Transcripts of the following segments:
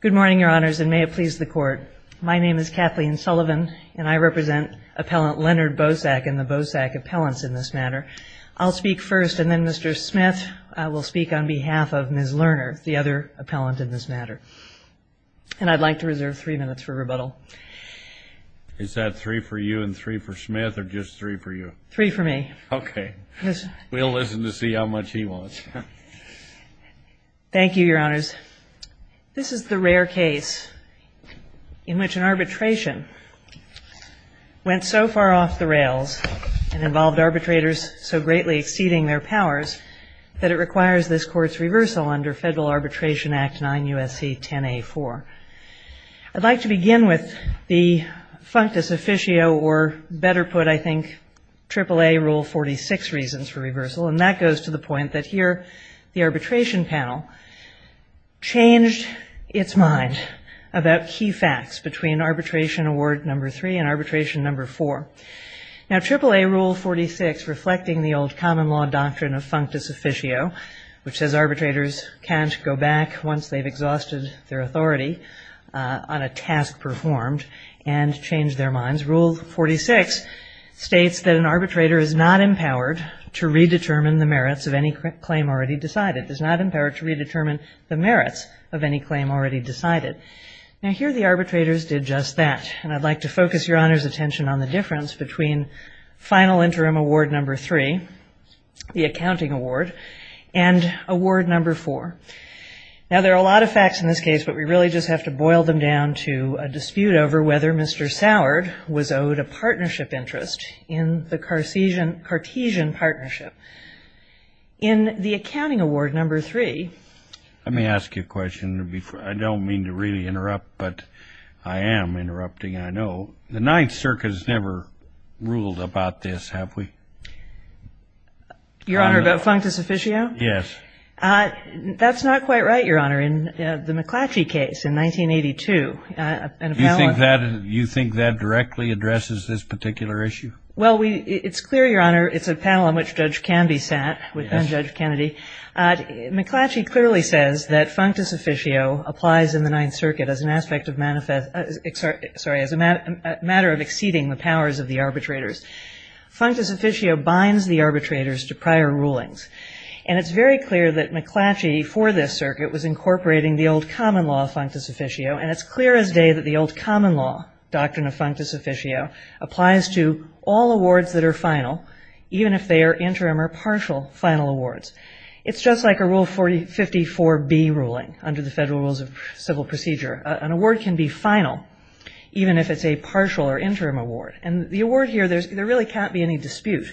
Good morning, your honors, and may it please the court. My name is Kathleen Sullivan, and I represent appellant Leonard Bosack and the Bosack appellants in this matter. I'll speak first, and then Mr. Smith will speak on behalf of Ms. Lerner, the other appellant in this matter. And I'd like to reserve three minutes for rebuttal. Is that three for you and three for Smith, or just three for you? Three for me. Okay. We'll listen to see how much he wants. Thank you, your honors. This is the rare case in which an arbitration went so far off the rails and involved arbitrators so greatly exceeding their powers that it requires this court's reversal under Federal Arbitration Act 9 U.S.C. 10 A. 4. I'd like to begin with the functus officio, or better put, I think, AAA Rule 46 reasons for reversal, and that goes to the point that here the arbitration panel changed its mind about key facts between Arbitration Award No. 3 and Arbitration No. 4. Now AAA Rule 46, reflecting the old common law doctrine of functus officio, which says arbitrators can't go back once they've exhausted their Now here the arbitrators did just that. And I'd like to focus your honors' attention on the difference between Final Interim Award No. 3, the Accounting Award, and Award No. 4. Now there are a lot of facts in this case, but we really just have to boil them down to a dispute over whether Mr. Sourd had a partnership interest in the Cartesian partnership. In the Accounting Award No. 3... Let me ask you a question. I don't mean to really interrupt, but I am interrupting, I know. The Ninth Circuit has never ruled about this, have we? Your Honor, about functus officio? Yes. That's not quite right, Your Honor. In the McClatchy case in 1982... You think that directly addresses this particular issue? Well, it's clear, Your Honor, it's a panel on which Judge Canby sat with then-Judge Kennedy. McClatchy clearly says that functus officio applies in the Ninth Circuit as an aspect of manifest... Sorry, as a matter of exceeding the powers of the arbitrators. Functus officio binds the arbitrators to prior rulings, and it's very clear that McClatchy for this circuit was incorporating the old common law of functus officio, and it's clear as day that the old common law doctrine of functus officio applies to all awards that are final, even if they are interim or partial final awards. It's just like a Rule 54B ruling under the Federal Rules of Civil Procedure. An award can be final, even if it's a partial or interim award. And the award here, there really can't be any dispute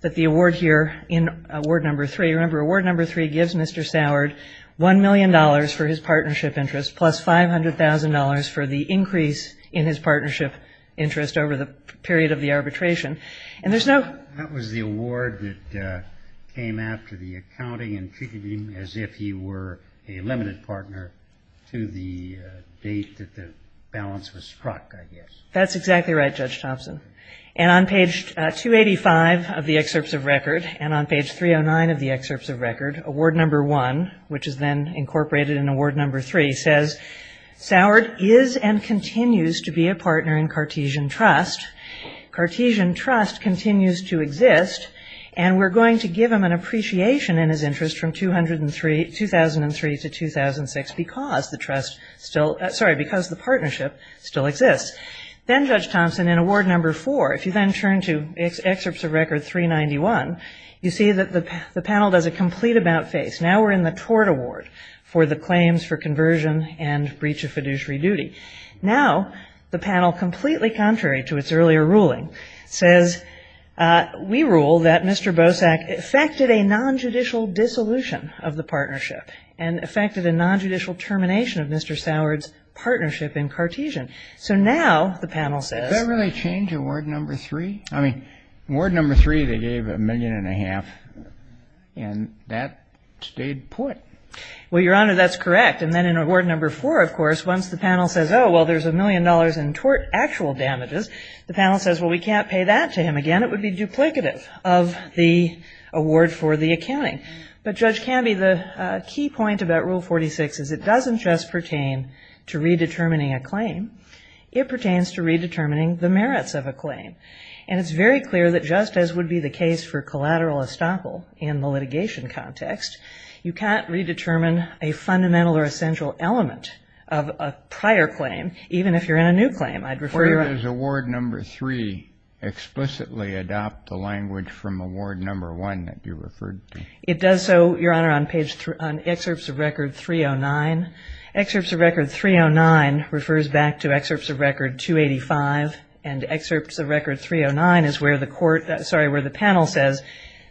that the award here in Award No. 3, remember Award No. 3 gives Mr. Sourd $1 million for his partnership interest plus $500,000 for the increase in his partnership interest over the period of the arbitration. And there's no... date that the balance was struck, I guess. That's exactly right, Judge Thompson. And on page 285 of the excerpts of record, and on page 309 of the excerpts of record, Award No. 1, which is then incorporated in Award No. 3, says, Sourd is and continues to be a partner in Cartesian Trust. Cartesian Trust continues to exist, and we're going to give him an appreciation in his interest from 2003 to 2006 because the partnership still exists. Then, Judge Thompson, in Award No. 4, if you then turn to excerpts of record 391, you see that the panel does a complete about-face. Now we're in the tort award for the claims for conversion and breach of fiduciary duty. Now the panel, completely contrary to its earlier ruling, says we rule that Mr. Bosak effected a nonjudicial dissolution of the partnership and effected a nonjudicial termination of Mr. Sourd's partnership in Cartesian. So now the panel says... Well, Your Honor, that's correct. And then in Award No. 4, of course, once the panel says, oh, well, there's a million dollars in tort actual damages, the panel says, well, we can't pay that to him again. It would be duplicative of the award for the accounting. But, Judge Canby, the key point about Rule 46 is it doesn't just pertain to redetermining a claim. It pertains to redetermining the merits of a claim. And it's very clear that just as would be the case for collateral estoppel in the litigation context, you can't redetermine a fundamental or essential element of a prior claim, even if you're in a new claim. I'd refer you... to Excerpts of Record 285 and Excerpts of Record 309, where the panel says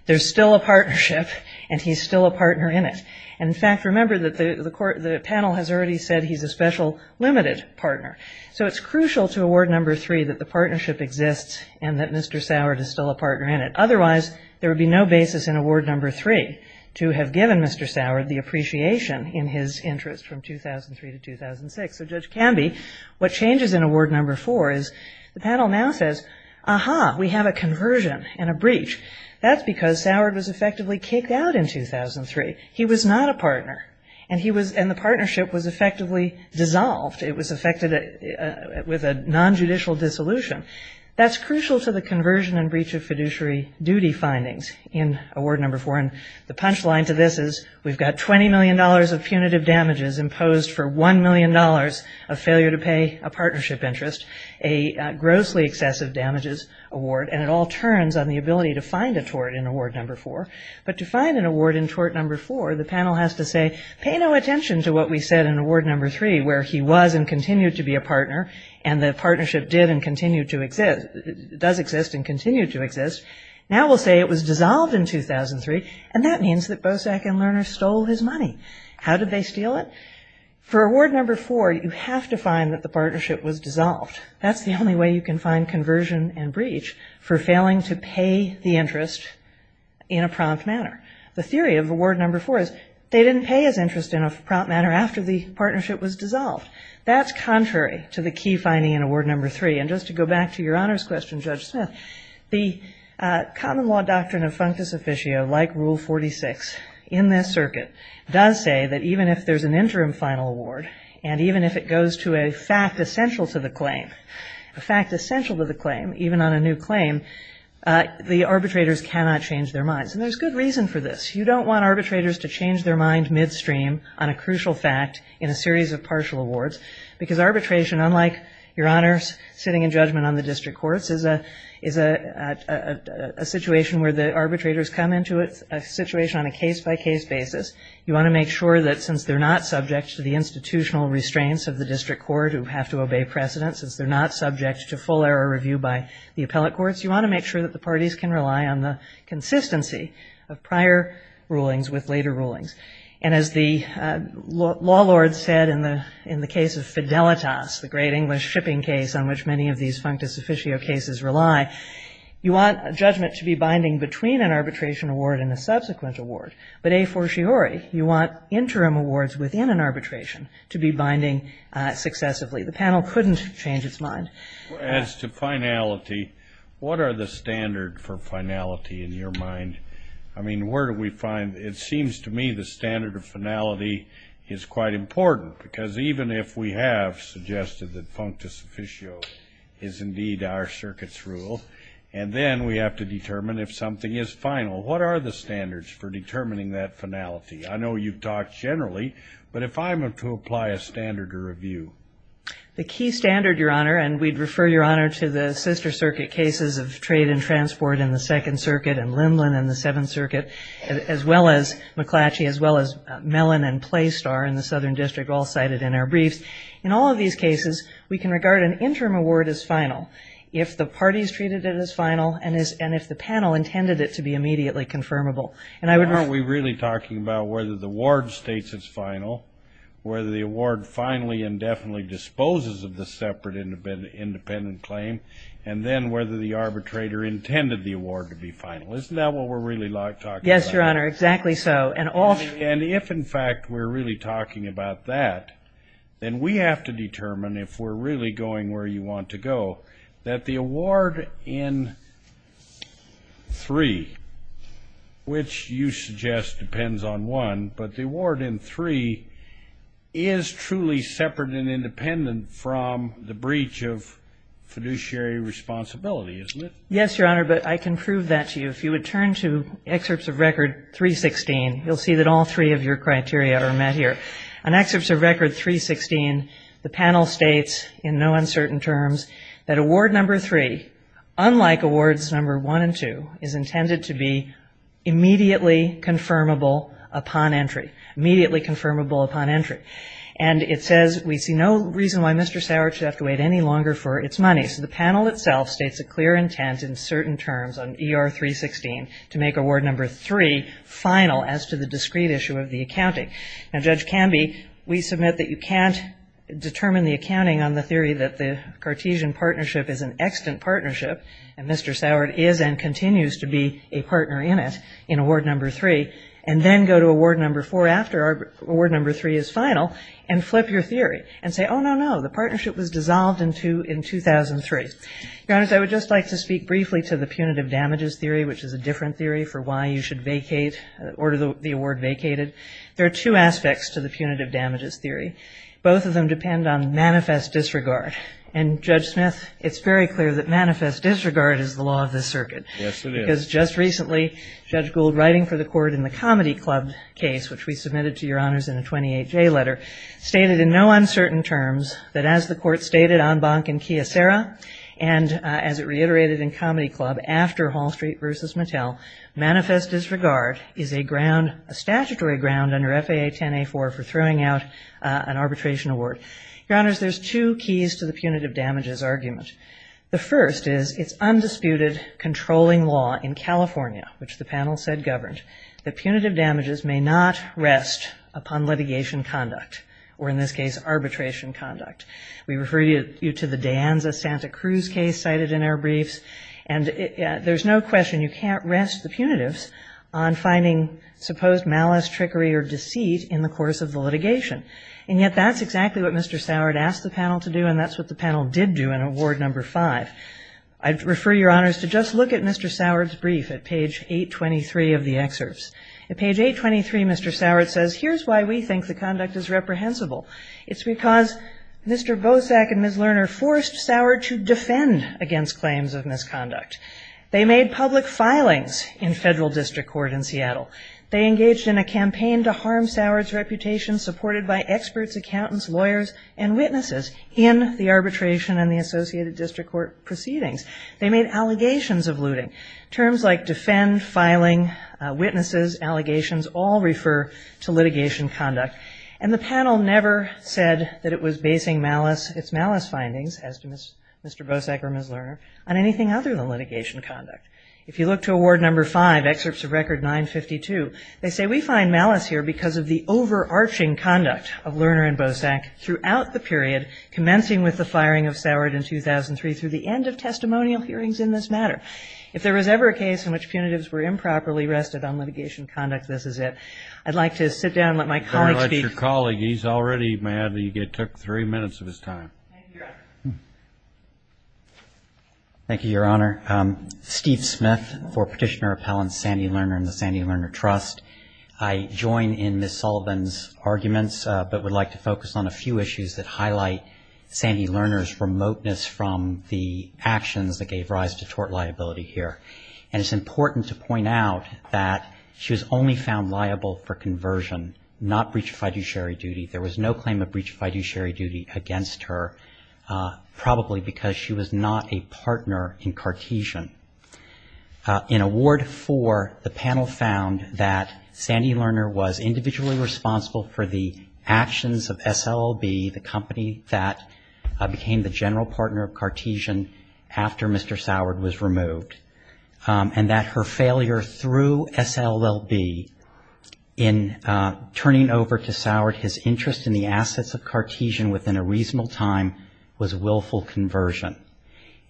there's still a partnership and he's still a partner in it. And, in fact, remember that the panel has already said he's a special limited partner. So it's crucial to Award No. 3 that the partnership exists and that Mr. Sourd is still a partner in it. Otherwise, there would be no basis in Award No. 3 to have given Mr. Sourd the appreciation in his interest from 2003 to 2006. So, Judge Canby, what changes in Award No. 4 is the panel now says, aha, we have a conversion and a breach. That's because Sourd was effectively kicked out in 2003. He was not a partner. And the partnership was effectively dissolved. It was affected with a nonjudicial dissolution. That's crucial to the conversion and breach of fiduciary duty findings in Award No. 4. And the punchline to this is we've got $20 million of punitive damages imposed for $1 million of failure to pay a partnership interest, a grossly excessive damages award, and it all turns on the ability to find a tort in Award No. 4. But to find an award in Tort No. 4, the panel has to say, pay no attention to what we said in Award No. 3 where he was and continued to be a partner and the partnership did and does exist and continue to exist. Now we'll say it was dissolved in 2003, and that means that Bosak and Lerner stole his money. How did they steal it? For Award No. 4, you have to find that the partnership was dissolved. That's the only way you can find conversion and breach for failing to pay the interest in a prompt manner. The theory of Award No. 4 is they didn't pay his interest in a prompt manner after the partnership was dissolved. That's contrary to the key finding in Award No. 3. And just to go back to your honors question, Judge Smith, the common law doctrine of functus officio, like Rule 46 in this circuit, does say that even if there's an interim final award and even if it goes to a fact essential to the claim, a fact essential to the claim, even on a new claim, the arbitrators cannot change their minds. And there's good reason for this. You don't want arbitrators to change their mind midstream on a crucial fact in a series of partial awards, because arbitration, unlike, your honors, sitting in judgment on the district courts, is a situation where the arbitrators come into a situation on a case-by-case basis. You want to make sure that since they're not subject to the institutional restraints of the district court who have to obey precedent, since they're not subject to full error review by the appellate courts, you want to make sure that the parties can rely on the consistency of prior rulings with later rulings. And as the law lord said in the case of Fidelitas, the great English shipping case on which many of these functus officio cases rely, you want judgment to be binding between an arbitration award and a subsequent award. But a fortiori, you want interim awards within an arbitration to be binding successively. The panel couldn't change its mind. As to finality, what are the standards for finality in your mind? I mean, where do we find, it seems to me the standard of finality is quite important, because even if we have suggested that functus officio is indeed our circuit's rule, and then we have to determine if something is final, what are the standards for determining that finality? I know you've talked generally, but if I'm to apply a standard to review. The key standard, Your Honor, and we'd refer, Your Honor, to the sister circuit cases of trade and transport in the Second Circuit and Lindland in the Seventh Circuit, as well as McClatchy, as well as Mellon and Playstar in the Southern District, all cited in our briefs. In all of these cases, we can regard an interim award as final if the parties treated it as final and if the panel intended it to be immediately confirmable. Aren't we really talking about whether the award states it's final, whether the award finally and definitely disposes of the separate independent claim, and then whether the arbitrator intended the award to be final? Isn't that what we're really talking about? Yes, Your Honor, exactly so. And if in fact we're really talking about that, then we have to determine if we're really going where you want to go, that the award in three, which you suggest depends on one, but the award in three is truly separate and independent from the breach of fiduciary responsibility, isn't it? Yes, Your Honor, but I can prove that to you. If you would turn to excerpts of Record 316, you'll see that all three of your criteria are met here. On excerpts of Record 316, the panel states in no uncertain terms that Award No. 3, unlike Awards No. 1 and 2, is intended to be immediately confirmable upon entry, immediately confirmable upon entry. And it says we see no reason why Mr. Sauer should have to wait any longer for its money. So the panel itself states a clear intent in certain terms on ER 316 to make Award No. 3 final as to the discrete issue of the accounting. And Mr. Sauer is and continues to be a partner in it, in Award No. 3, and then go to Award No. 4 after Award No. 3 is final and flip your theory and say, oh, no, no, the partnership was dissolved in 2003. Your Honors, I would just like to speak briefly to the punitive damages theory, which is a different theory for why you should order the award vacated. There are two aspects to the punitive damages theory. Both of them depend on manifest disregard. And, Judge Smith, it's very clear that manifest disregard is the law of this circuit. Yes, it is. Because just recently, Judge Gould, writing for the Court in the Comedy Club case, which we submitted to Your Honors in a 28-day letter, stated in no uncertain terms that as the Court stated on Bank and Chiesera, and as it reiterated in Comedy Club, after Hall Street v. Mattel, manifest disregard is a statutory ground under FAA 10-A-4 for throwing out an arbitration award. Your Honors, there's two keys to the punitive damages argument. The first is it's undisputed controlling law in California, which the panel said governed, that punitive damages may not rest upon litigation conduct, or in this case, arbitration conduct. We refer you to the De Anza-Santa Cruz case cited in our briefs. And there's no question you can't rest the punitives on finding supposed malice, trickery, or deceit in the course of the litigation. And yet that's exactly what Mr. Sourd asked the panel to do, and that's what the panel did do in Award No. 5. I'd refer your Honors to just look at Mr. Sourd's brief at page 823 of the excerpts. At page 823, Mr. Sourd says, Here's why we think the conduct is reprehensible. It's because Mr. Bosak and Ms. Lerner forced Sourd to defend against claims of misconduct. They made public filings in federal district court in Seattle. They engaged in a campaign to harm Sourd's reputation, supported by experts, accountants, lawyers, and witnesses, in the arbitration and the associated district court proceedings. They made allegations of looting. Terms like defend, filing, witnesses, allegations, all refer to litigation conduct. And the panel never said that it was basing its malice findings, as to Mr. Bosak or Ms. Lerner, on anything other than litigation conduct. If you look to Award No. 5, Excerpts of Record 952, they say we find malice here because of the overarching conduct of Lerner and Bosak throughout the period commencing with the firing of Sourd in 2003 through the end of testimonial hearings in this matter. If there was ever a case in which punitives were improperly rested on litigation conduct, this is it. I'd like to sit down and let my colleague speak. Let your colleague. He's already mad that you took three minutes of his time. Thank you, Your Honor. Thank you, Your Honor. Steve Smith for Petitioner Appellants, Sandy Lerner and the Sandy Lerner Trust. I join in Ms. Sullivan's arguments, but would like to focus on a few issues that highlight Sandy Lerner's remoteness from the actions that gave rise to tort liability here. And it's important to point out that she was only found liable for conversion, not breach of fiduciary duty. There was no claim of breach of fiduciary duty against her, probably because she was not a partner in Cartesian. In Award IV, the panel found that Sandy Lerner was individually responsible for the actions of SLLB, the company that became the general partner of Cartesian after Mr. Sourd was removed, and that her failure through SLLB in turning over to Sourd his interest in the assets of Cartesian within a reasonable time was willful conversion.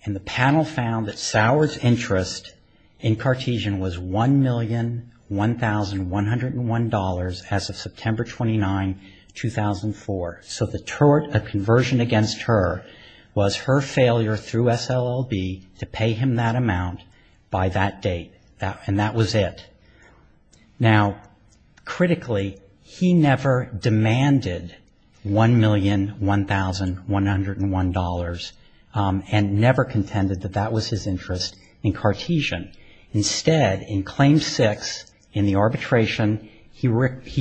And the panel found that Sourd's interest in Cartesian was $1,001,101 as of September 29, 2004. So the tort of conversion against her was her failure through SLLB to pay him that amount by that date, and that was it. Now, critically, he never demanded $1,001,101. And never contended that that was his interest in Cartesian. Instead, in Claim VI, in the arbitration, he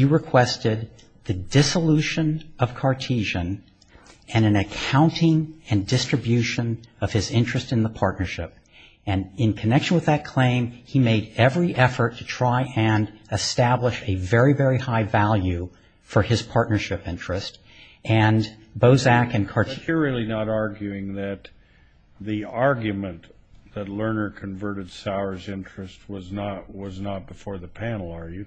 requested the dissolution of Cartesian and an accounting and distribution of his interest in the partnership. And in connection with that claim, he made every effort to try and establish a very, very high value for his partnership interest. But you're really not arguing that the argument that Lerner converted Sourd's interest was not before the panel, are you?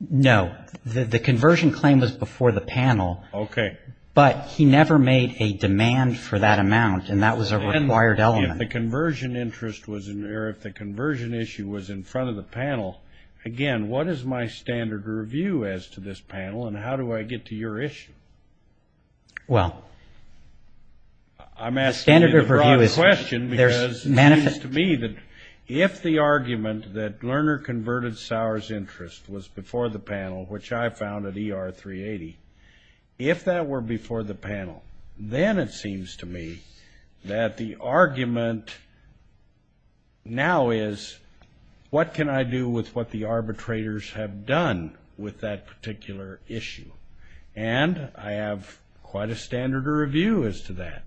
No. The conversion claim was before the panel. Okay. But he never made a demand for that amount, and that was a required element. If the conversion issue was in front of the panel, again, what is my standard review as to this panel? And how do I get to your issue? Well, the standard of review is there's manifest to me that if the argument that Lerner converted Sourd's interest was before the panel, which I found at ER 380, if that were before the panel, then it seems to me that the argument now is, what can I do with what the arbitrators have done with that particular issue? And I have quite a standard of review as to that.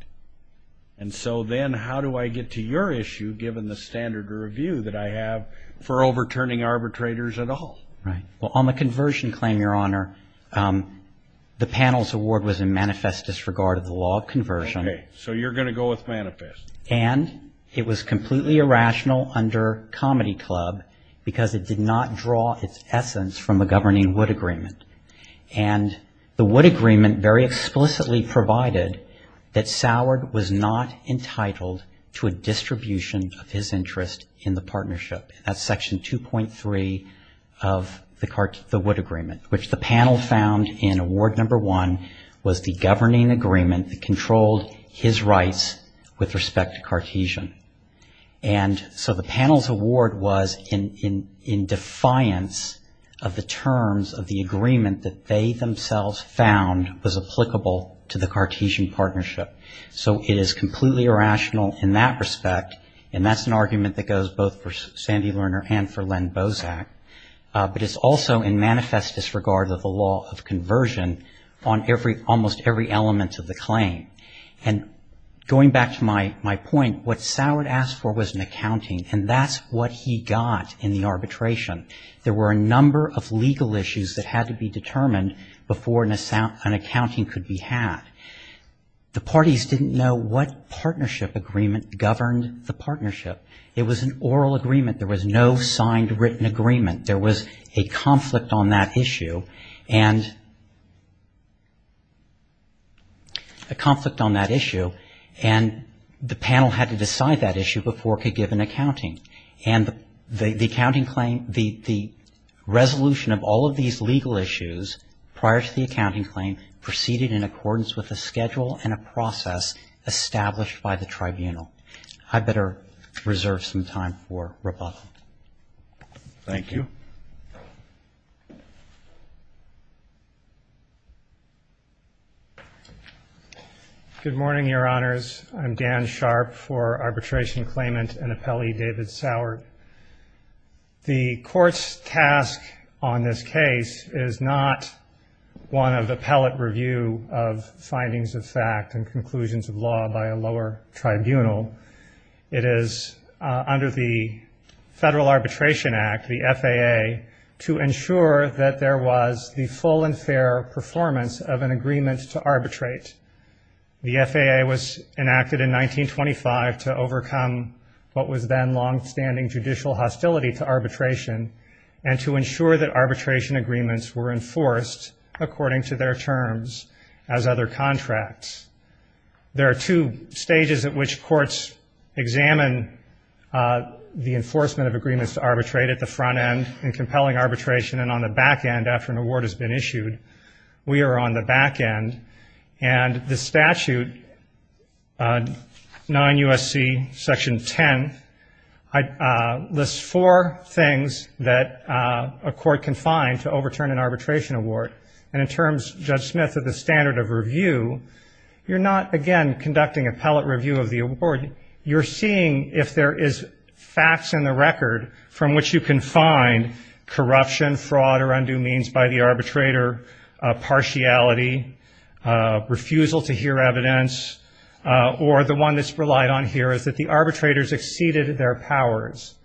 And so then how do I get to your issue, given the standard of review that I have for overturning arbitrators at all? Well, on the conversion claim, Your Honor, the panel's award was in manifest disregard of the law of conversion. Okay. So you're going to go with manifest. And it was completely irrational under Comedy Club because it did not draw its essence from the governing Wood Agreement. And the Wood Agreement very explicitly provided that Sourd was not entitled to a distribution of his interest in the partnership. That's Section 2.3 of the Wood Agreement, which the panel found in Award No. 1 was the governing agreement that controlled his rights with respect to Cartesian. And so the panel's award was in defiance of the terms of the agreement that they themselves found was applicable to the Cartesian partnership. So it is completely irrational in that respect. And that's an argument that goes both for Sandy Lerner and for Len Bozak. But it's also in manifest disregard of the law of conversion on every, almost every element of the claim. And going back to my point, what Sourd asked for was an accounting. And that's what he got in the arbitration. There were a number of legal issues that had to be determined before an accounting could be had. The parties didn't know what partnership agreement governed the partnership. It was an oral agreement. There was no signed written agreement. There was a conflict on that issue. And the panel had to decide that issue before it could give an accounting. And the accounting claim, the resolution of all of these legal issues prior to the accounting claim, proceeded in accordance with a schedule and a process established by the tribunal. I better reserve some time for rebuttal. Thank you. Good morning, Your Honors. I'm Dan Sharp for Arbitration Claimant and Appellee David Sourd. The court's task on this case is not one of appellate review of findings of fact and conclusions of law by a lower tribunal. It is under the Federal Arbitration Act, the FAA, to ensure that there was the full and fair performance of an agreement to arbitrate. The FAA was enacted in 1925 to overcome what was then longstanding judicial hostility to arbitration and to ensure that arbitration agreements were enforced according to their terms as other contracts. There are two stages at which courts examine the enforcement of agreements to arbitrate at the front end in compelling arbitration and on the back end after an award has been issued. We are on the back end. And the statute, 9 U.S.C. Section 10, lists four things that a court can find to overturn an arbitration award. And in terms, Judge Smith, of the standard of review, you're not, again, conducting appellate review of the award. You're seeing if there is facts in the record from which you can find corruption, fraud or undue means by the arbitrator, partiality, refusal to hear evidence, or the one that's relied on here is that the arbitrators exceeded their powers.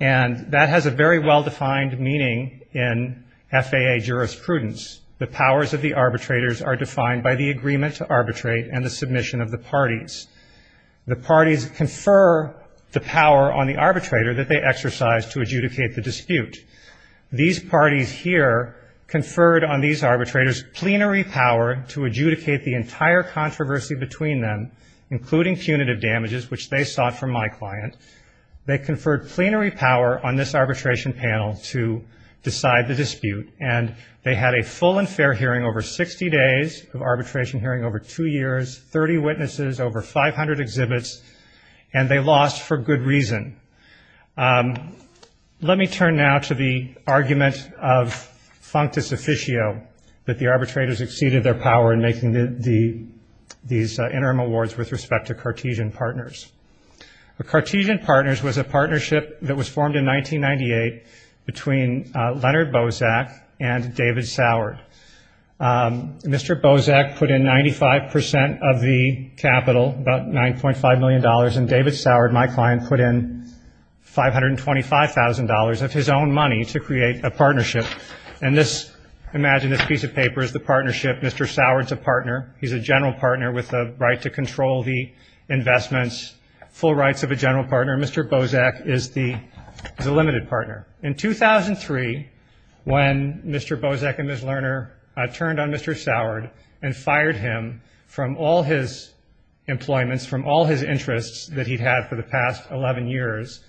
And that has a very well-defined meaning in FAA jurisprudence. The powers of the arbitrators are defined by the agreement to arbitrate and the submission of the parties. The parties confer the power on the arbitrator that they exercise to adjudicate the dispute. These parties here conferred on these arbitrators plenary power to adjudicate the entire controversy between them, including punitive damages, which they sought from my client. They conferred plenary power on this arbitration panel to decide the dispute. And they had a full and fair hearing over 60 days of arbitration hearing over two years, 30 witnesses, over 500 exhibits. And they lost for good reason. Let me turn now to the argument of Functus Officio that the arbitrators exceeded their power in making these interim awards with respect to the Cartesian Partners. The Cartesian Partners was a partnership that was formed in 1998 between Leonard Bozak and David Sourd. Mr. Bozak put in 95% of the capital, about $9.5 million, and David Sourd, my client, put in $525,000 of his own money to create a partnership. And this, imagine this piece of paper is the partnership, Mr. Sourd's a partner, he's a general partner with the right to control the investments, full rights of a general partner, Mr. Bozak is the limited partner. In 2003, when Mr. Bozak and Ms. Lerner turned on Mr. Sourd and fired him from all his employments, from all his interests that he'd had for the past 11 years,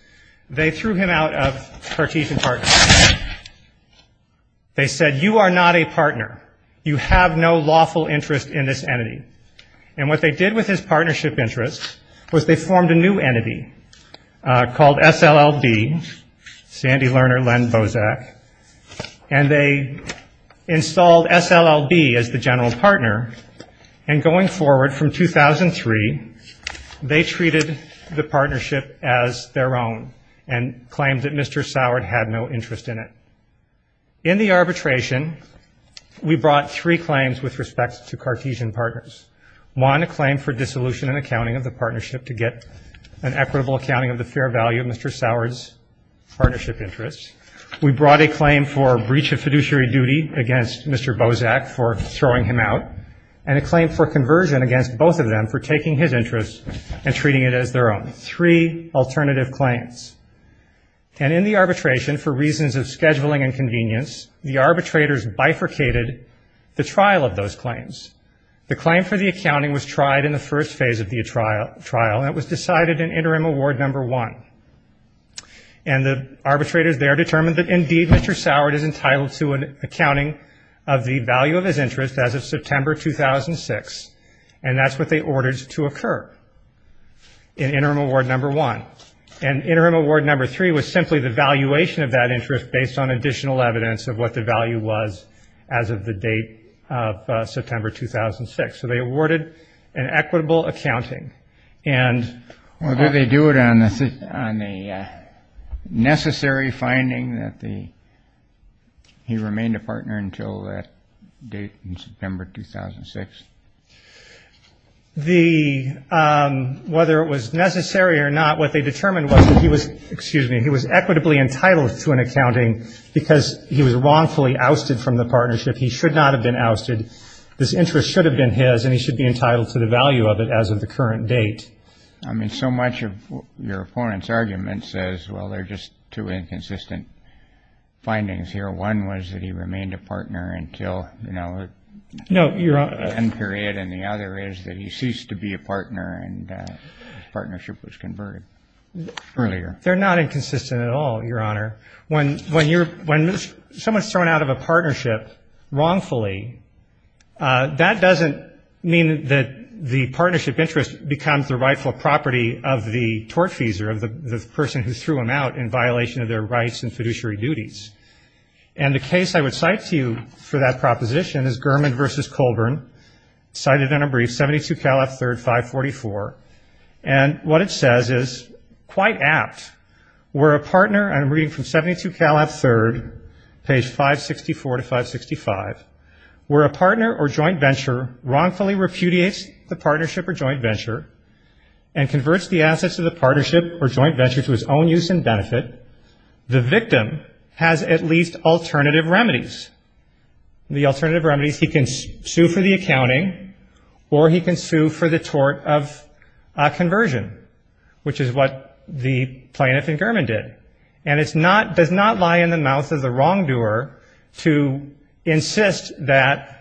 they threw him out of Cartesian Partners. They said, you are not a partner, you have no lawful interest in this entity. And what they did with his partnership interest was they formed a new entity called SLLB, Sandy Lerner, Len Bozak, and they installed SLLB as the general partner, and going forward from 2003, they treated the partnership as their own and claimed that Mr. Sourd had no interest in it. In the arbitration, we brought three claims with respect to Cartesian Partners, one a claim for dissolution and accounting of the partnership to get an equitable accounting of the fair value of Mr. Sourd's partnership interest, we brought a claim for breach of fiduciary duty against Mr. Bozak for throwing him out, and a claim for conversion against both of them for taking his interest and in the arbitration for reasons of scheduling and convenience, the arbitrators bifurcated the trial of those claims. The claim for the accounting was tried in the first phase of the trial, and it was decided in interim award number one. And the arbitrators there determined that indeed Mr. Sourd is entitled to an accounting of the value of his interest as of September 2006, and that's what they ordered to occur in interim award number one. And interim award number three was simply the valuation of that interest based on additional evidence of what the value was as of the date of September 2006, so they awarded an equitable accounting. And whether they do it on the necessary finding that he remained a partner until that date in September 2006. The whether it was necessary or not, what they determined was that he was, excuse me, he was equitably entitled to an accounting because he was wrongfully ousted from the partnership. He should not have been ousted. This interest should have been his, and he should be entitled to the value of it as of the current date. I mean, so much of your opponent's argument says, well, they're just two inconsistent findings here. One was that he remained a partner until, you know, one period, and the other is that he ceased to be a partner and his partnership was converted earlier. They're not inconsistent at all, Your Honor. When someone's thrown out of a partnership wrongfully, that doesn't mean that the partnership interest becomes the rightful property of the tortfeasor, of the person who threw him out in violation of their rights and fiduciary duties, and the case I would cite to you for that proposition is Gurman v. Colburn, cited in a brief, 72 Cal F3rd 544, and what it says is quite apt, where a partner, and I'm reading from 72 Cal F3rd, page 564 to 565, where a partner or joint venture wrongfully repudiates the partnership or joint venture and converts the assets of the partnership or joint venture to its own use and benefit, the victim has at least alternative remedies. The alternative remedies, he can sue for the accounting or he can sue for the tort of conversion, which is what the plaintiff in Gurman did. And it's not, does not lie in the mouth of the wrongdoer to insist that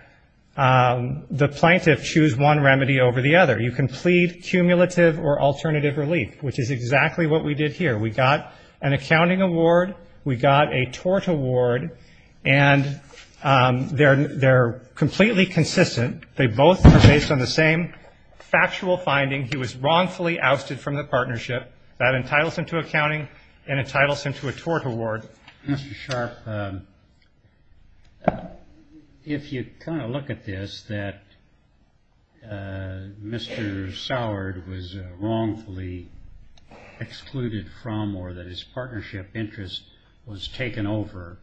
the plaintiff choose one remedy over the other. You can plead cumulative or alternative relief, which is exactly what we did here. We got an accounting award, we got a tort award, and they're completely consistent. They both are based on the same factual finding. He was wrongfully ousted from the partnership. That entitles him to accounting and entitles him to a tort award. Mr. Sharpe, if you kind of look at this, that Mr. Soward was wrongfully excluded from or that his partnership interest was taken over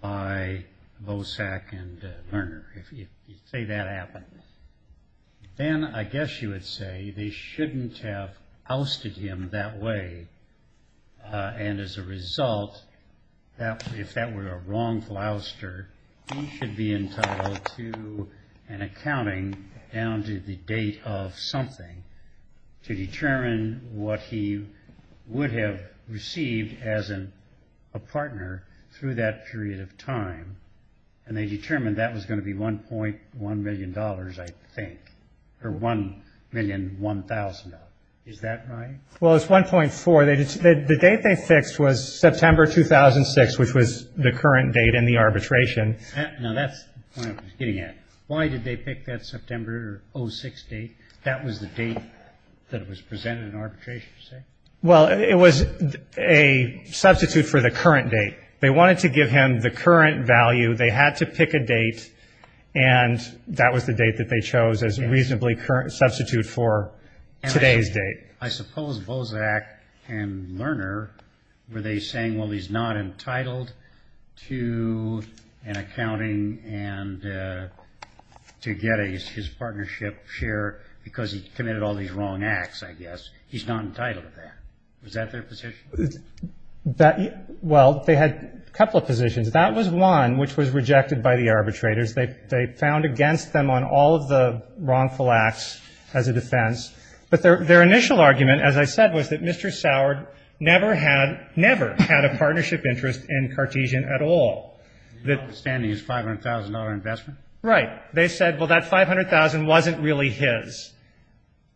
by Bosak and Lerner, if you say that happened, then I guess you would say they shouldn't have ousted him that way, and as a result, if that were a wrongful ouster, he should be entitled to an accounting down to the date of something to determine what he would have received as a partner through that period of time. And they determined that was going to be $1.1 million, I think, or $1,001,000. Is that right? Well, it's $1.4. The date they fixed was September 2006, which was the current date in the arbitration. Now, that's the point I was getting at. Why did they pick that September 06 date? That was the date that was presented in arbitration, you say? Well, it was a substitute for the current date. They wanted to give him the current value. They had to pick a date, and that was the date that they chose as a reasonably current substitute for today's date. I suppose Bosak and Lerner were they saying, well, he's not entitled to an accounting and to get his partnership share because he didn't have a partnership share. Was that their position? Well, they had a couple of positions. That was one which was rejected by the arbitrators. They found against them on all of the wrongful acts as a defense. But their initial argument, as I said, was that Mr. Sourd never had a partnership interest in Cartesian at all. And his outstanding is $500,000 investment? Right. They said, well, that $500,000 wasn't really his.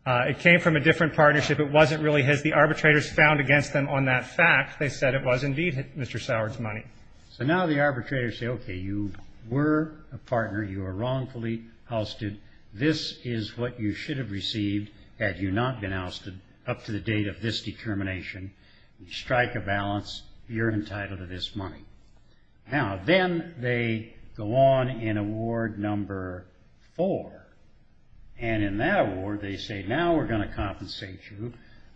It came from a different partnership. It wasn't really his. The arbitrators found against them on that fact. They said it was indeed Mr. Sourd's money. So now the arbitrators say, okay, you were a partner. You were wrongfully ousted. This is what you should have received had you not been ousted up to the date of this determination. Strike a balance. You're entitled to this money. Now, then they go on in award number four. And in that award, they say, now we're going to compensate you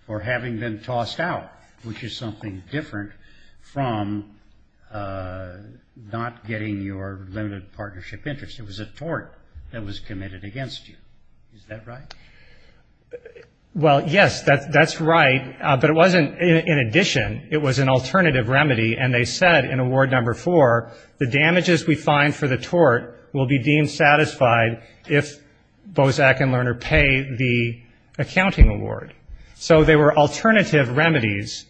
for having them tossed out, which is something different from not getting your limited partnership interest. It was a tort that was committed against you. Is that right? And in that award number four, the damages we find for the tort will be deemed satisfied if Bozak and Lerner pay the accounting award. So they were alternative remedies,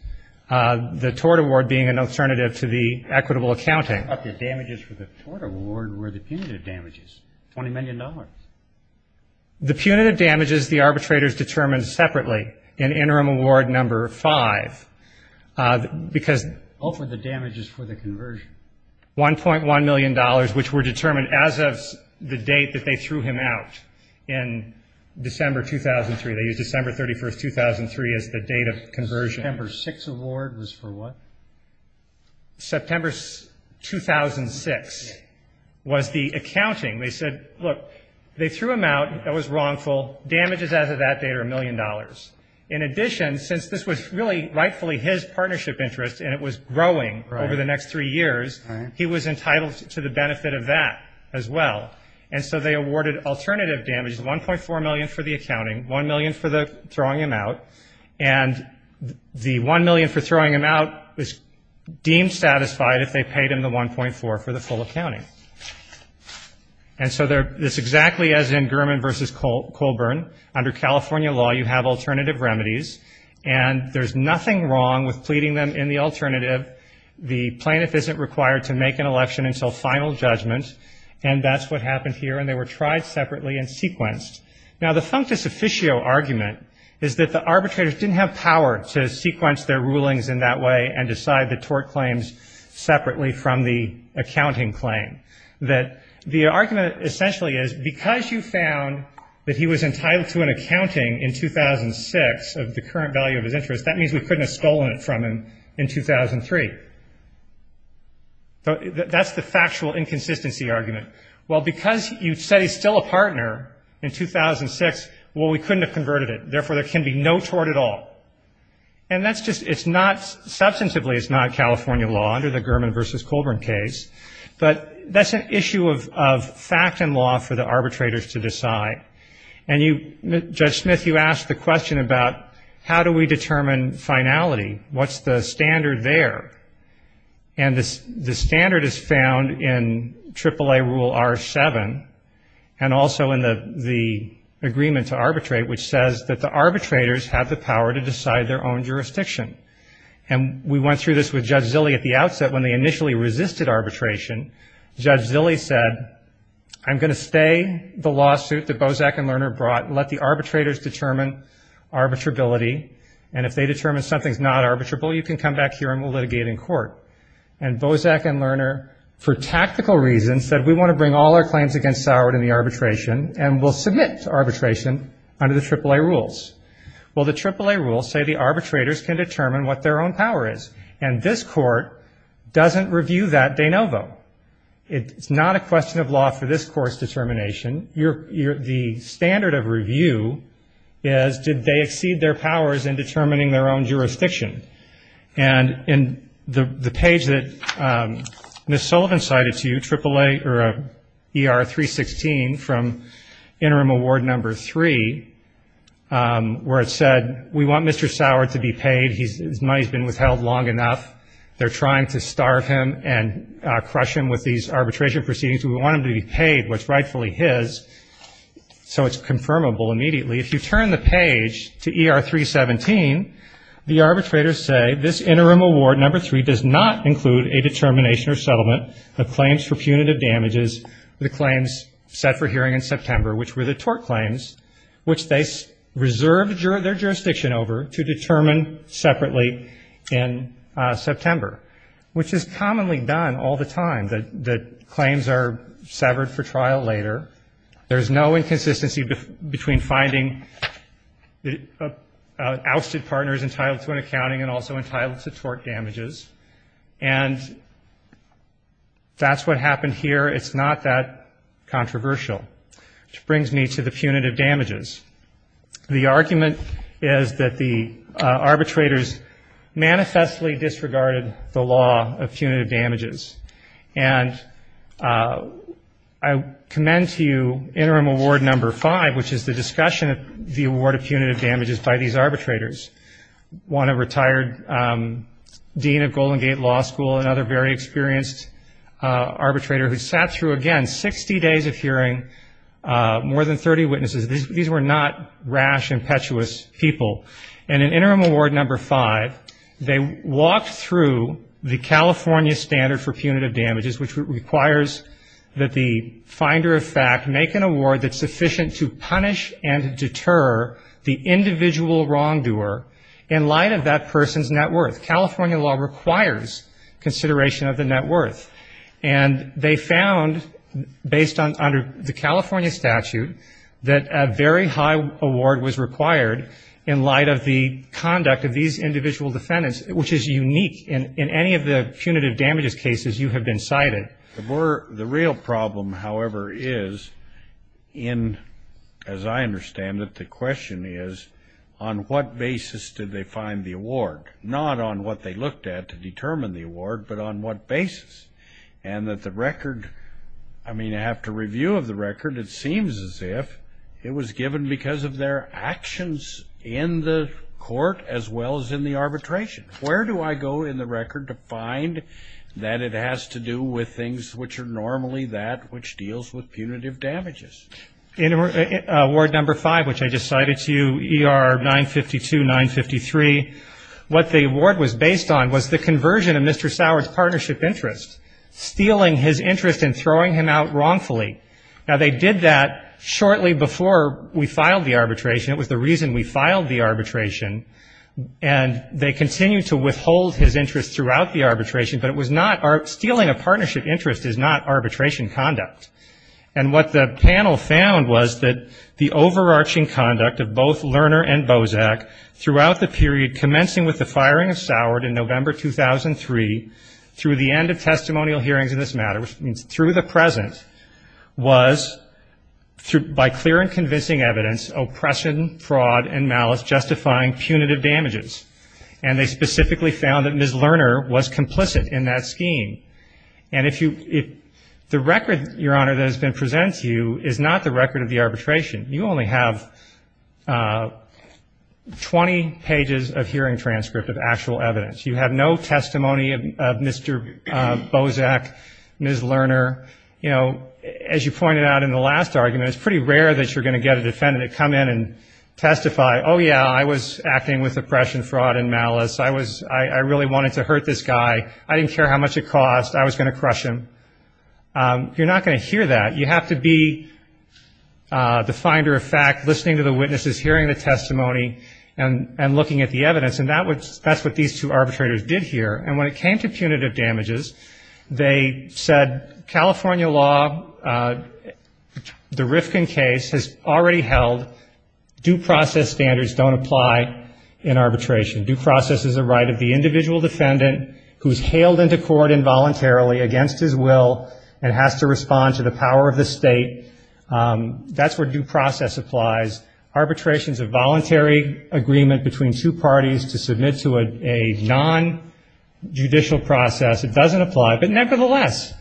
the tort award being an alternative to the equitable accounting. But the damages for the tort award were the punitive damages, $20 million. The punitive damages the arbitrators determined separately in interim award number five. Because... All for the damages for the conversion. $1.1 million, which were determined as of the date that they threw him out in December 2003. They used December 31, 2003 as the date of conversion. September 6 award was for what? September 2006 was the accounting. They said, look, they threw him out. That was wrongful. Damages as of that date are $1 million. In addition, since this was really rightfully his partnership interest and it was growing over the next three years, he was entitled to the benefit of that as well, and so they awarded alternative damages, $1.4 million for the accounting, $1 million for throwing him out. And the $1 million for throwing him out was deemed satisfied if they paid him the $1.4 for the full accounting. And so this is exactly as in Gurman v. Colburn. Under California law, you have alternative remedies, and there's nothing wrong with pleading them in the alternative. The plaintiff isn't required to make an election until final judgment, and that's what happened here, and they were tried separately and sequenced. Now, the functus officio argument is that the arbitrators didn't have power to sequence their rulings in that way and decide the tort claims separately from the accounting claim, that the argument essentially is because you found that he was entitled to an accounting in 2006 of the current value of his interest, that means we couldn't have stolen it from him in 2003. That's the factual inconsistency argument. Well, because you said he's still a partner in 2006, well, we couldn't have converted it. Well, and that's just, it's not, substantively it's not California law under the Gurman v. Colburn case, but that's an issue of fact and law for the arbitrators to decide. And you, Judge Smith, you asked the question about how do we determine finality, what's the standard there? And the standard is found in AAA Rule R7 and also in the agreement to arbitrate, which says that the arbitrators have the power to decide their own jurisdiction. And we went through this with Judge Zille at the outset when they initially resisted arbitration. Judge Zille said, I'm going to stay the lawsuit that Bozak and Lerner brought, let the arbitrators determine arbitrability, and if they determine something's not arbitrable, you can come back here and we'll litigate in court. And Bozak and Lerner, for tactical reasons, said we want to bring all our claims against Sauer in the arbitration and we'll submit to arbitration under the AAA Rules. Well, the AAA Rules say the arbitrators can determine what their own power is, and this court doesn't review that de novo. It's not a question of law for this court's determination. The standard of review is, did they exceed their powers in determining their own jurisdiction? And in the page that Ms. Sullivan cited to you, ER 316 from Interim Award Number 3, where it said, we want Mr. Sauer to be paid, his money's been withheld long enough, they're trying to starve him and crush him with these arbitration proceedings. We want him to be paid what's rightfully his, so it's confirmable immediately. If you turn the page to ER 317, the arbitrators say this Interim Award Number 3 does not include a determination or settlement of claims for punitive damages, the claims set for hearing in September, which were the tort claims, which they reserved their jurisdiction over to determine separately in September, which is commonly done all the time, that claims are found, and finding ousted partners entitled to an accounting and also entitled to tort damages, and that's what happened here. It's not that controversial, which brings me to the punitive damages. The argument is that the arbitrators manifestly disregarded the law of punitive damages, and I commend to you Interim Award Number 5, which is the discussion of the award of punitive damages by these arbitrators. One, a retired dean of Golden Gate Law School, another very experienced arbitrator who sat through, again, 60 days of hearing, more than 30 witnesses. These were not rash, impetuous people. And in Interim Award Number 5, they walked through the California standard for punitive damages, which requires that the person be sufficient to punish and deter the individual wrongdoer in light of that person's net worth. California law requires consideration of the net worth, and they found, based on the California statute, that a very high award was required in light of the conduct of these individual defendants, which is unique in any of the punitive damages cases you have been cited. And as I understand it, the question is, on what basis did they find the award? Not on what they looked at to determine the award, but on what basis? And that the record, I mean, after review of the record, it seems as if it was given because of their actions in the court, as well as in the arbitration. Where do I go in the record to find that it has to do with things which are normally that which deals with punitive damages? In Award Number 5, which I just cited to you, ER 952, 953, what the award was based on was the conversion of Mr. Sauer's partnership interest, stealing his interest and throwing him out wrongfully. Now, they did that shortly before we filed the arbitration. It was the reason we filed the arbitration. And they continued to withhold his interest throughout the arbitration, but it was not, stealing a partnership interest is not arbitration conduct. And what the panel found was that the overarching conduct of both Lerner and Bozak throughout the period commencing with the firing of Sauer in November 2003 through the end of testimonial hearings in this matter, which means through the present, was by clear and convincing evidence, oppression, fraud and malice justifying punitive damages. And they specifically found that Ms. Lerner was complicit in that scheme. And the record, Your Honor, that has been presented to you is not the record of the arbitration. You only have 20 pages of hearing transcript of actual evidence. You have no testimony of Mr. Bozak, Ms. Lerner. You know, as you pointed out in the last argument, it's pretty rare that you're going to get a defendant to come in and testify, oh, yeah, I was acting with oppression, fraud and malice. I was, I really wanted to hurt this guy. I didn't care how much it cost. I was going to crush him. You're not going to hear that. You have to be the finder of fact, listening to the witnesses, hearing the testimony and looking at the evidence. And that's what these two arbitrators did here. And when it came to punitive damages, they said, California law, the Rifkin case has already held due process standards don't apply in arbitration. Due process is a right of the individual defendant who's hailed into court involuntarily against his will and has to respond to the power of the state. That's where due process applies. Arbitration is a voluntary agreement between two parties to submit to a non-punitive case. It's a judicial process. It doesn't apply. But nevertheless,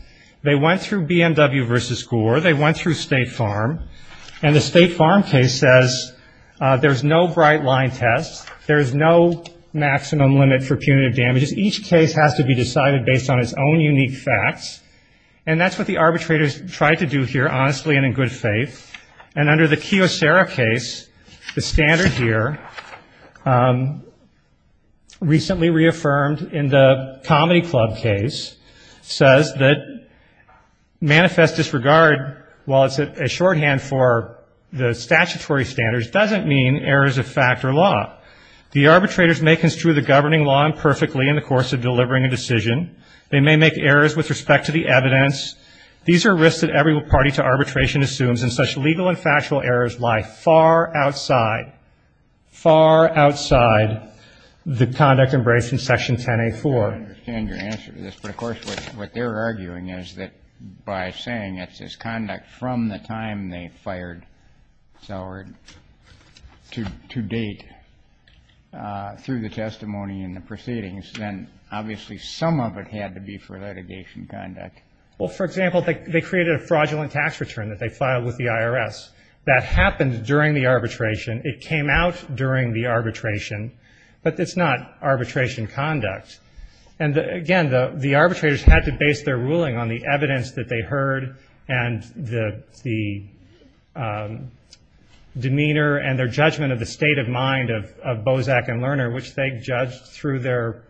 they went through BMW versus Gore. They went through State Farm. And the State Farm case says there's no bright line test. There's no maximum limit for punitive damages. Each case has to be decided based on its own unique facts. And that's what the arbitrators tried to do here, honestly and in good faith. And under the Kiyocera case, the standard here, recently reaffirmed in the Bureau of Justice, the Comedy Club case, says that manifest disregard, while it's a shorthand for the statutory standards, doesn't mean errors of fact or law. The arbitrators may construe the governing law imperfectly in the course of delivering a decision. They may make errors with respect to the evidence. These are risks that every party to arbitration assumes, and such legal and factual errors lie far outside, far outside the conduct embraced in Section 10A4. I don't understand your answer to this, but of course what they're arguing is that by saying it's this conduct from the time they fired Sauer to date, through the testimony and the proceedings, then obviously some of it had to be for litigation conduct. Well, for example, they created a fraudulent tax return that they filed with the IRS. That happened during the arbitration. It came out during the arbitration, but it's not arbitration conduct. And again, the arbitrators had to base their ruling on the evidence that they heard and the demeanor and their judgment of the state of mind of Bozak and Lerner, which they judged through their,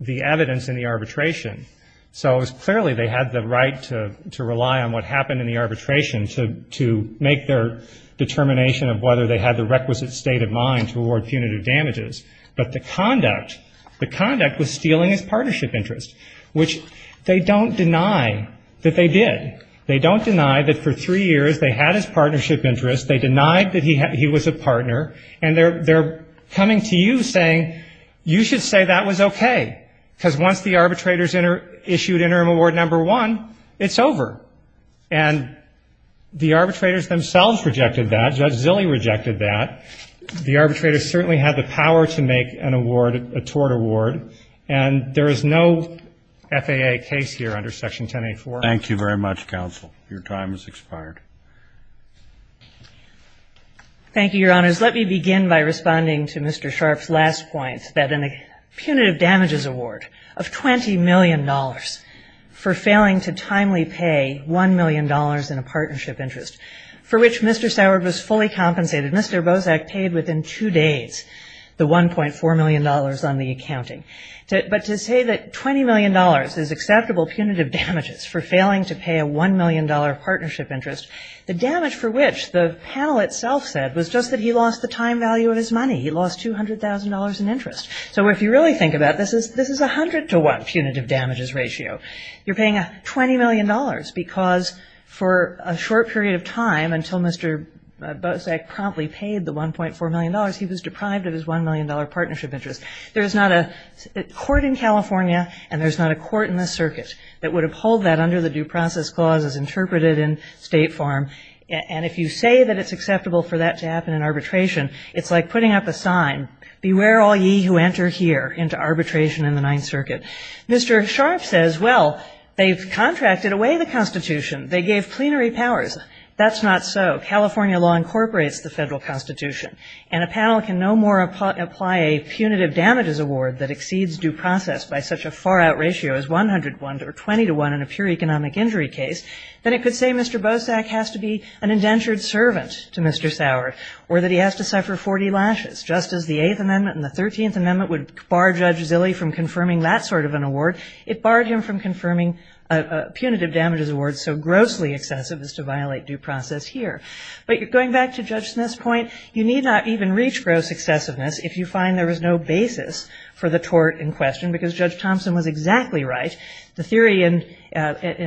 the evidence in the arbitration. So it was clearly they had the right to rely on what happened in the arbitration to make their determination of whether they had the requisite state of mind to award punitive damages. But the conduct, the conduct was stealing his partnership interest, which they don't deny that they did. They don't deny that for three years they had his partnership interest, they denied that he was a partner, and they're coming to you saying, you should say that was okay, because once the arbitrators issued interim award number one, it's over. And the arbitrators themselves rejected that. Judge Zille rejected that. The arbitrators certainly had the power to make an award, a tort award, and there is no FAA case here under Section 1084. Thank you very much, counsel. Your time has expired. Thank you, Your Honors. Let me begin by responding to Mr. Sharpe's last point, that in a punitive damages award of $20 million for failing to timely pay $1 million in a partnership interest, for which Mr. Soward was fully compensated, Mr. Bozak paid within two days the $1.4 million on the accounting. But to say that $20 million is acceptable punitive damages for failing to pay a $1 million partnership interest, the damage for which the panel itself said was just that he lost the time value of his money. He lost $200,000 in interest. So if you really think about it, this is a 100 to 1 punitive damages ratio. You're paying $20 million because for a short period of time, until Mr. Bozak promptly paid the $1.4 million, he was deprived of his $1 million partnership interest. There's not a court in California, and there's not a court in the circuit that would uphold that under the Due Process Clause as interpreted in state form. And if you say that it's acceptable for that to happen in arbitration, it's like putting up a sign. Beware all ye who enter here into arbitration in the Ninth Circuit. Mr. Sharpe says, well, they've contracted away the Constitution. They gave plenary powers. That's not so. California law incorporates the federal Constitution. And a panel can no more apply a punitive damages award that exceeds due process by such a far-out ratio as 100 to 1 or 20 to 1 in a pure economic injury case than it could say Mr. Bozak has to be an indentured servant to Mr. Sauer or that he has to suffer 40 lashes. Just as the Eighth Amendment and the Thirteenth Amendment would bar Judge Zille from confirming that sort of an award, it barred him from confirming a punitive damages award so grossly excessive as to violate due process here. But going back to Judge Smith's point, you need not even reach gross excessiveness if you find there was no basis for the tort in question because Judge Thompson was exactly right. The theory in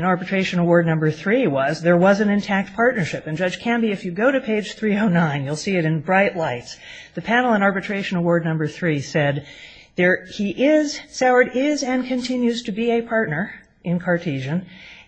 Arbitration Award No. 3 was there was an intact partnership. And Judge Canby, if you go to page 309, you'll see it in bright lights. The panel in Arbitration Award No. 3 said there he is, Sauer is and continues to be a partner in Cartesian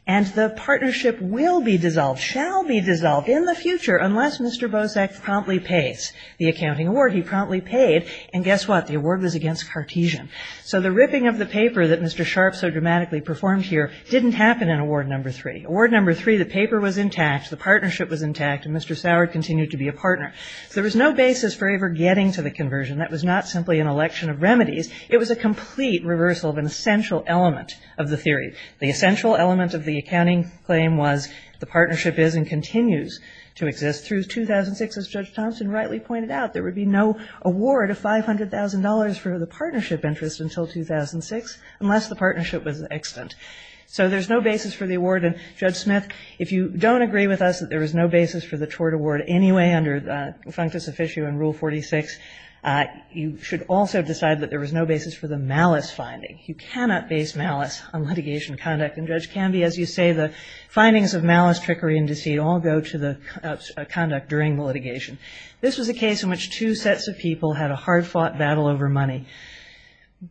and the partnership will be dissolved, shall be dissolved in the future unless Mr. Bozak promptly pays the accounting award he promptly paid. And guess what? The award was against Cartesian. So the ripping of the paper that happened here didn't happen in Award No. 3. Award No. 3, the paper was intact, the partnership was intact, and Mr. Sauer continued to be a partner. So there was no basis for ever getting to the conversion. That was not simply an election of remedies. It was a complete reversal of an essential element of the theory. The essential element of the accounting claim was the partnership is and continues to exist through 2006. As Judge Thompson rightly pointed out, there would be no award of $500,000 for the partnership interest until 2006 unless the partnership was extant. And the partnership was extant. So there's no basis for the award. And Judge Smith, if you don't agree with us that there was no basis for the tort award anyway under the functus officio in Rule 46, you should also decide that there was no basis for the malice finding. You cannot base malice on litigation conduct. And Judge Canby, as you say, the findings of malice, trickery, and deceit all go to the conduct during the litigation. This was a case in which two sets of people had a hard-fought battle over money.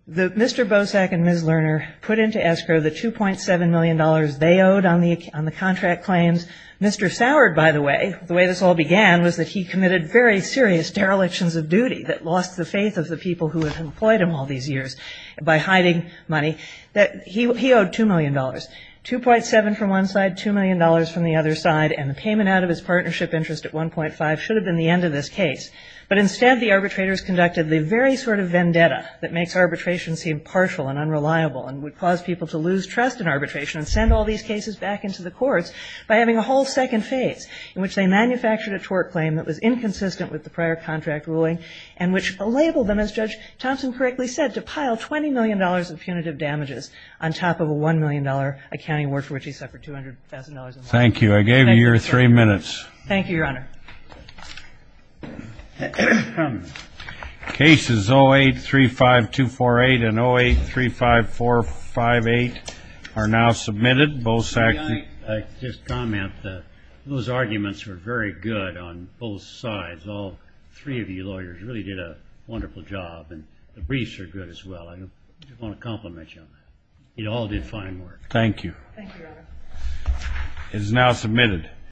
Mr. Bosak and Ms. Lerner put into escrow the $2.7 million they owed on the contract claims. Mr. Soured, by the way, the way this all began was that he committed very serious derelictions of duty that lost the faith of the people who had employed him all these years by hiding money. He owed $2 million. $2.7 from one side, $2 million from the other side. And the payment out of his partnership interest at 1.5 should have been the end of this case. But instead the arbitrators conducted the very sort of vendetta that makes arbitration seem partial and unreliable and would cause people to lose trust in arbitration and send all these cases back into the courts by having a whole second phase in which they manufactured a tort claim that was inconsistent with the prior contract ruling and which labeled them, as Judge Thompson correctly said, to pile $20 million of punitive damages on top of a $1 million accounting award for which he suffered $200,000. Thank you. I gave you your three minutes. Cases 08-35248 and 08-35458 are now submitted. I'd like to just comment that those arguments were very good on both sides. All three of you lawyers really did a wonderful job and the briefs are good as well. I just want to compliment you on that. It all did fine work. Thank you.